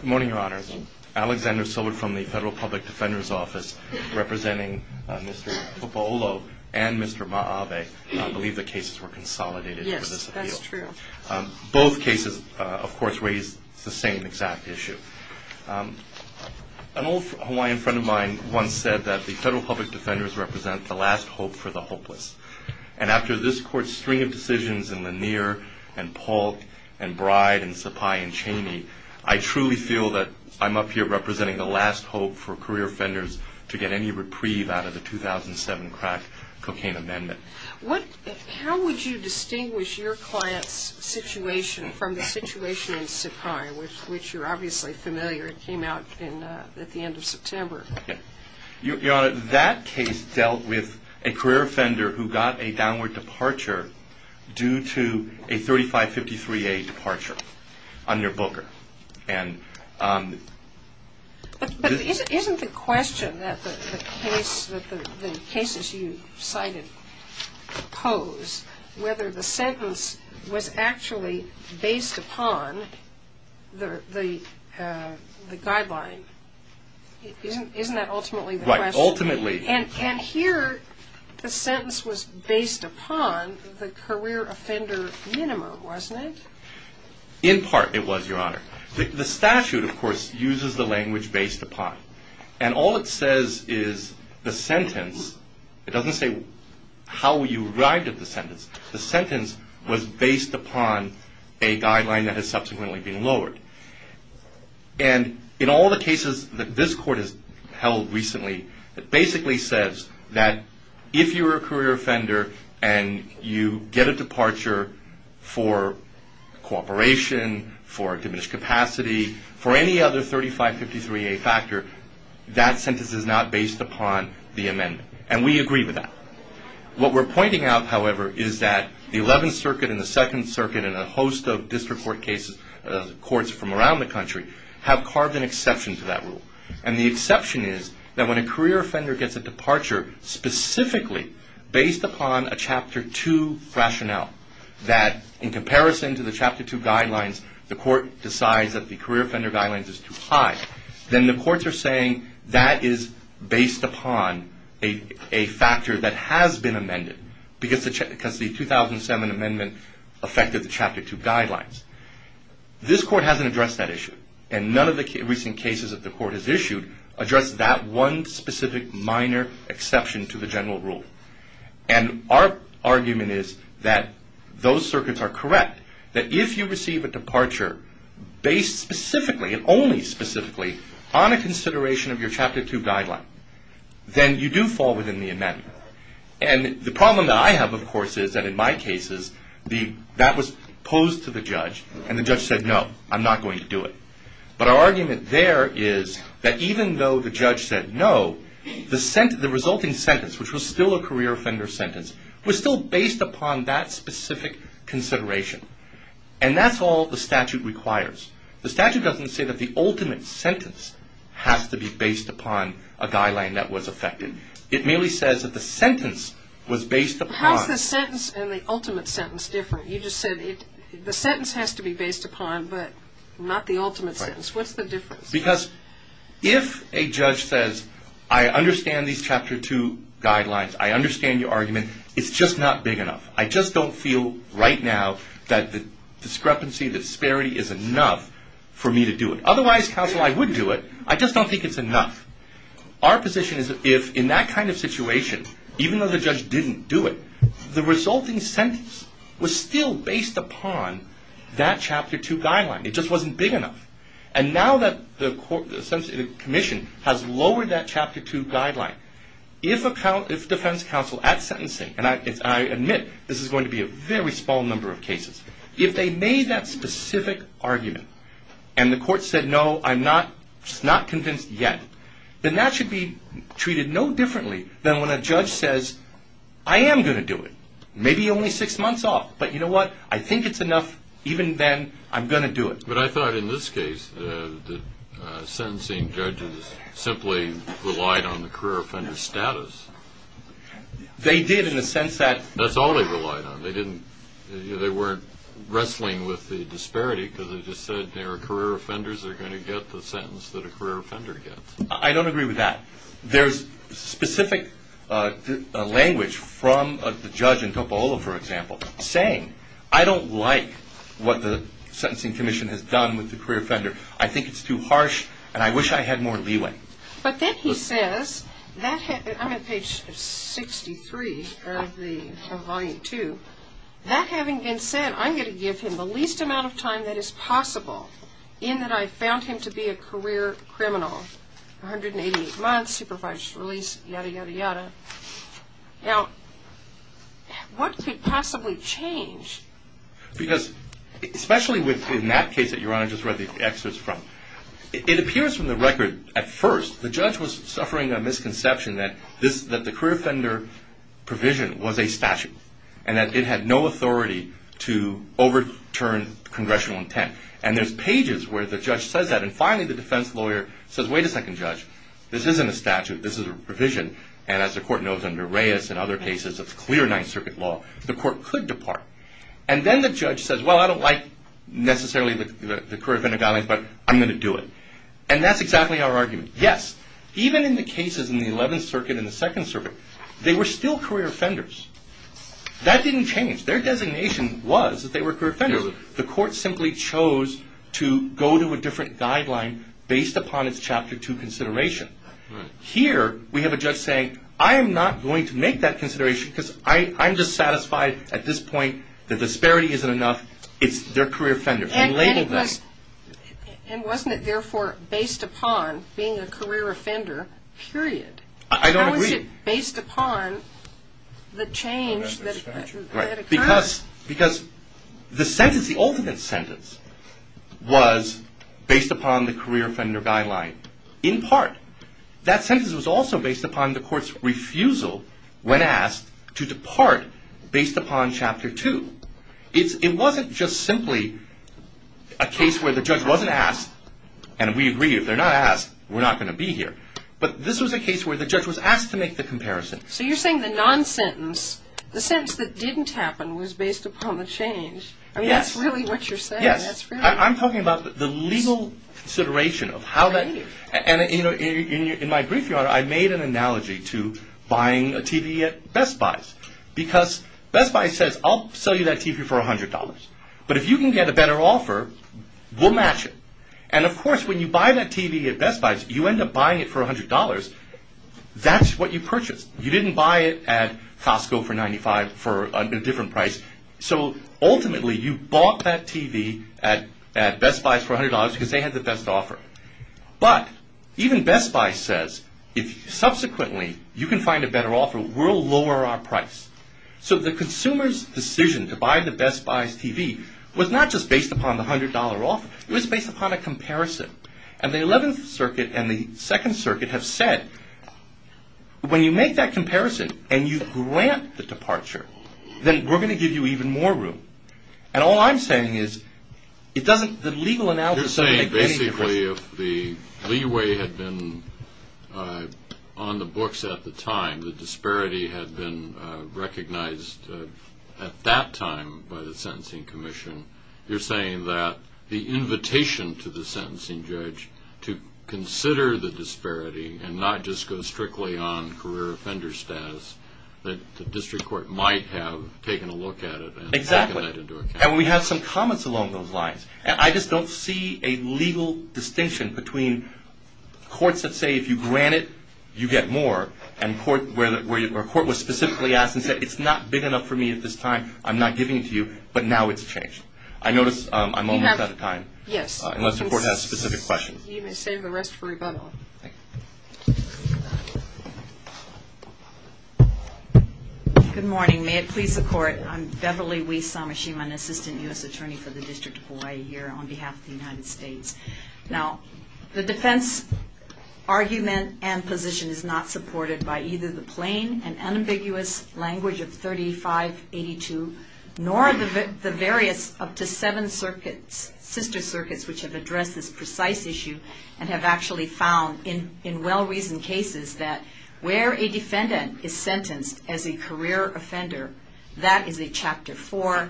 Good morning, your honors. Alexander Silver from the Federal Public Defender's Office, representing Mr. Tupuola and Mr. Ma'ave, believe the cases were consolidated. Yes, that's true. Both cases, of course, raise the same exact issue. An old Hawaiian friend of mine once said that the Federal Public Defenders represent the last hope for the hopeless. And after this court's string of decisions in Lanier and Polk and Bride and Sapai and Chaney, I truly feel that I'm up here representing the last hope for career offenders to get any reprieve out of the 2007 crack cocaine amendment. How would you distinguish your client's situation from the situation in Sapai, which you're obviously familiar with. It came out at the end of September. Your honor, that case dealt with a career offender who got a downward departure due to a 3553A departure under Booker. But isn't the question that the cases you cited pose whether the sentence was actually based upon the guideline, isn't that ultimately the question? Right, ultimately. And here the sentence was based upon the career offender minima, wasn't it? In part it was, your honor. The statute, of course, uses the language based upon. And all it says is the sentence, it doesn't say how you arrived at the sentence, the sentence was based upon a guideline that has subsequently been lowered. And in all the cases that this court has held recently, it basically says that if you're a career offender and you get a departure for cooperation, for diminished capacity, for any other 3553A factor, that sentence is not based upon the amendment. And we agree with that. What we're pointing out, however, is that the 11th Circuit and the 2nd Circuit and a host of district court cases, courts from around the country, have carved an exception to that rule. And the exception is that when a career offender gets a departure specifically based upon a Chapter 2 rationale, that in comparison to the Chapter 2 guidelines, the court decides that the career offender guideline is too high. Then the courts are saying that is based upon a factor that has been amended because the 2007 amendment affected the Chapter 2 guidelines. This court hasn't addressed that issue. And none of the recent cases that the court has issued address that one specific minor exception to the general rule. And our argument is that those circuits are correct, that if you receive a departure based specifically and only specifically on a consideration of your Chapter 2 guideline, then you do fall within the amendment. And the problem that I have, of course, is that in my cases, that was posed to the judge and the judge said, no, I'm not going to do it. But our argument there is that even though the judge said no, the resulting sentence, which was still a career offender sentence, was still based upon that specific consideration. And that's all the statute requires. The statute doesn't say that the ultimate sentence has to be based upon a guideline that was affected. It merely says that the sentence was based upon... How is the sentence and the ultimate sentence different? You just said the sentence has to be based upon, but not the ultimate sentence. What's the difference? Because if a judge says, I understand these Chapter 2 guidelines, I understand your argument, it's just not big enough. I just don't feel right now that the discrepancy, the disparity is enough for me to do it. Otherwise, counsel, I would do it. I just don't think it's enough. Our position is that if in that kind of situation, even though the judge didn't do it, the resulting sentence was still based upon that Chapter 2 guideline. It just wasn't big enough. And now that the court, the commission, has lowered that Chapter 2 guideline, if defense counsel at sentencing, and I admit this is going to be a very small number of cases, if they made that specific argument, and the court said, no, I'm not convinced yet, then that should be treated no differently than when a judge says, I am going to do it. Maybe only six months off, but you know what? I think it's enough, even then, I'm going to do it. But I thought in this case, the sentencing judges simply relied on the career offender status. They did in the sense that... That's all they relied on. They didn't, they weren't wrestling with the disparity because they just said there are career offenders that are going to get the sentence that a career offender gets. I don't agree with that. There's specific language from the judge in Tupelo, for example, saying, I don't like what the Sentencing Commission has done with the career offender. I think it's too harsh, and I wish I had more leeway. But then he says, I'm at page 63 of Volume 2. That having been said, I'm going to give him the least amount of time that is possible in that I found him to be a career criminal. 188 months, supervised release, yada, yada, yada. Now, what could possibly change? Because, especially in that case that Your Honor just read the excerpts from, it appears from the record, at first, the judge was suffering a misconception that the career offender provision was a statute. And that it had no authority to overturn congressional intent. And there's pages where the judge says that, and finally the defense lawyer says, wait a second, Judge, this isn't a statute, this is a provision. And as the court knows under Reyes and other cases, it's clear Ninth Circuit law, the court could depart. And then the judge says, well, I don't like necessarily the career offender guidelines, but I'm going to do it. And that's exactly our argument. Yes, even in the cases in the Eleventh Circuit and the Second Circuit, they were still career offenders. That didn't change. Their designation was that they were career offenders. The court simply chose to go to a different guideline based upon its Chapter 2 consideration. Here, we have a judge saying, I am not going to make that consideration because I'm just satisfied at this point that disparity isn't enough. It's they're career offenders. And wasn't it therefore based upon being a career offender, period? I don't agree. How is it based upon the change that occurred? Because the sentence, the ultimate sentence, was based upon the career offender guideline in part. That sentence was also based upon the court's refusal when asked to depart based upon Chapter 2. It wasn't just simply a case where the judge wasn't asked, and we agree if they're not asked, we're not going to be here. But this was a case where the judge was asked to make the comparison. So you're saying the non-sentence, the sentence that didn't happen was based upon the change. Yes. I mean, that's really what you're saying. Yes. I'm talking about the legal consideration of how that. And, you know, in my brief, I made an analogy to buying a TV at Best Buy's. Because Best Buy says, I'll sell you that TV for $100. But if you can get a better offer, we'll match it. And, of course, when you buy that TV at Best Buy's, you end up buying it for $100. That's what you purchased. You didn't buy it at Costco for $95 for a different price. So, ultimately, you bought that TV at Best Buy's for $100 because they had the best offer. But even Best Buy says, if subsequently you can find a better offer, we'll lower our price. So the consumer's decision to buy the Best Buy's TV was not just based upon the $100 offer. It was based upon a comparison. And the 11th Circuit and the 2nd Circuit have said, when you make that comparison and you grant the departure, then we're going to give you even more room. And all I'm saying is, the legal analysis doesn't make any difference. You're saying, basically, if the leeway had been on the books at the time, the disparity had been recognized at that time by the Sentencing Commission, you're saying that the invitation to the sentencing judge to consider the disparity and not just go strictly on career offender status, that the district court might have taken a look at it. Exactly. And we have some comments along those lines. I just don't see a legal distinction between courts that say, if you grant it, you get more, or a court was specifically asked and said, it's not big enough for me at this time, I'm not giving it to you, but now it's changed. I notice I'm almost out of time. Yes. Unless the Court has specific questions. You may save the rest for rebuttal. Thank you. Good morning. May it please the Court, I'm Beverly Wi-Samashima, an Assistant U.S. Attorney for the District of Hawaii here on behalf of the United States. Now, the defense argument and position is not supported by either the plain and unambiguous language of 3582, nor the various up to seven sister circuits which have addressed this precise issue and have actually found in well-reasoned cases that where a defendant is sentenced as a career offender, that is a Chapter 4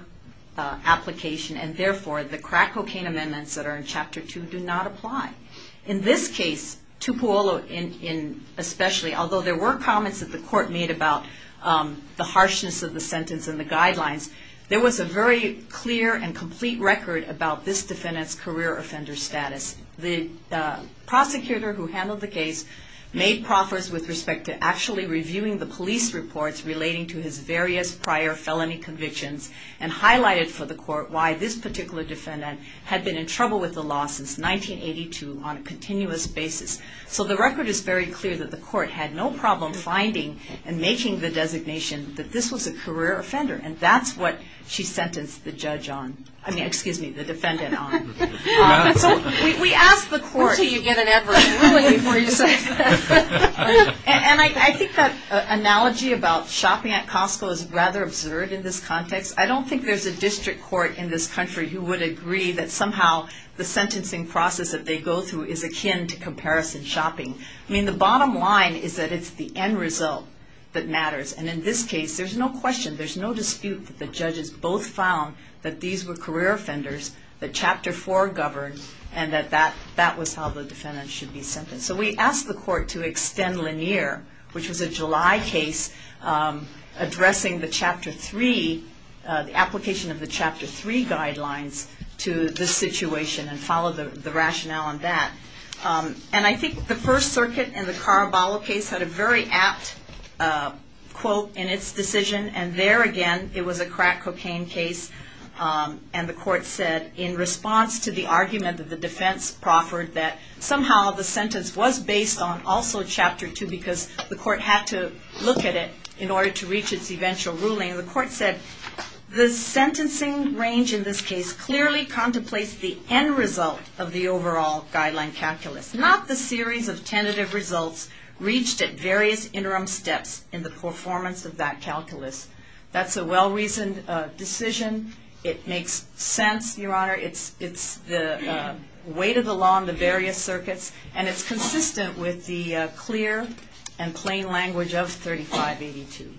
application, and therefore, the crack cocaine amendments that are in Chapter 2 do not apply. In this case, Tupu Olu, especially, although there were comments that the Court made about the harshness of the sentence and the guidelines, there was a very clear and complete record about this defendant's career offender status. The prosecutor who handled the case made proffers with respect to actually reviewing the police reports relating to his various prior felony convictions and highlighted for the Court why this particular defendant had been in trouble with the law since 1982 on a continuous basis. So the record is very clear that the Court had no problem finding and making the designation that this was a career offender, and that's what she sentenced the judge on. I mean, excuse me, the defendant on. So we asked the Court. Until you get an adverse ruling before you say it. And I think that analogy about shopping at Costco is rather absurd in this context. I don't think there's a district court in this country who would agree that somehow the sentencing process that they go through is akin to comparison shopping. I mean, the bottom line is that it's the end result that matters. And in this case, there's no question, there's no dispute that the judges both found that these were career offenders, that Chapter 4 governed, and that that was how the defendant should be sentenced. So we asked the Court to extend Lanier, which was a July case, addressing the Chapter 3, the application of the Chapter 3 guidelines to this situation and follow the rationale on that. And I think the First Circuit in the Caraballo case had a very apt quote in its decision. And there again, it was a crack cocaine case. And the Court said, in response to the argument that the defense proffered, that somehow the sentence was based on also Chapter 2 because the Court had to look at it in order to reach its eventual ruling. And the Court said, the sentencing range in this case clearly contemplates the end result of the overall guideline calculus, not the series of tentative results reached at various interim steps in the performance of that calculus. That's a well-reasoned decision. It makes sense, Your Honor. It's the weight of the law in the various circuits. And it's consistent with the clear and plain language of 3582.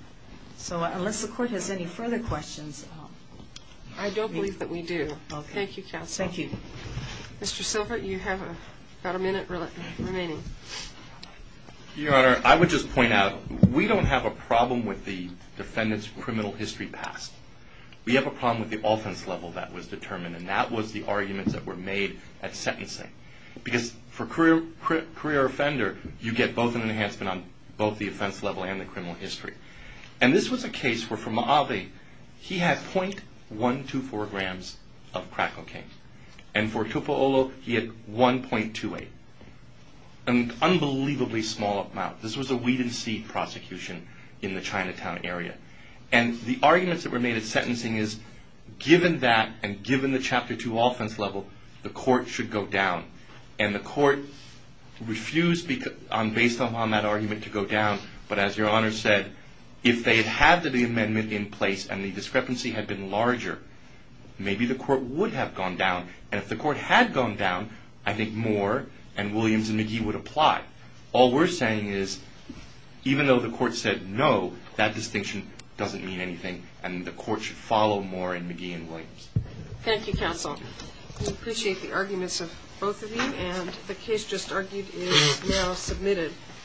So unless the Court has any further questions. I don't believe that we do. Thank you, Counsel. Thank you. Mr. Silver, you have about a minute remaining. Your Honor, I would just point out, we don't have a problem with the defendant's criminal history past. We have a problem with the offense level that was determined. And that was the arguments that were made at sentencing. Because for a career offender, you get both an enhancement on both the offense level and the criminal history. And this was a case where, for Ma'ave, he had 0.124 grams of crack cocaine. And for Tupaolo, he had 1.28. An unbelievably small amount. This was a weed and seed prosecution in the Chinatown area. And the arguments that were made at sentencing is, given that and given the Chapter 2 offense level, the Court should go down. And the Court refused, based on that argument, to go down. But as Your Honor said, if they had had the amendment in place and the discrepancy had been larger, maybe the Court would have gone down. And if the Court had gone down, I think Moore and Williams and McGee would apply. All we're saying is, even though the Court said no, that distinction doesn't mean anything. And the Court should follow Moore and McGee and Williams. Thank you, counsel. We appreciate the arguments of both of you. And the case just argued is now submitted.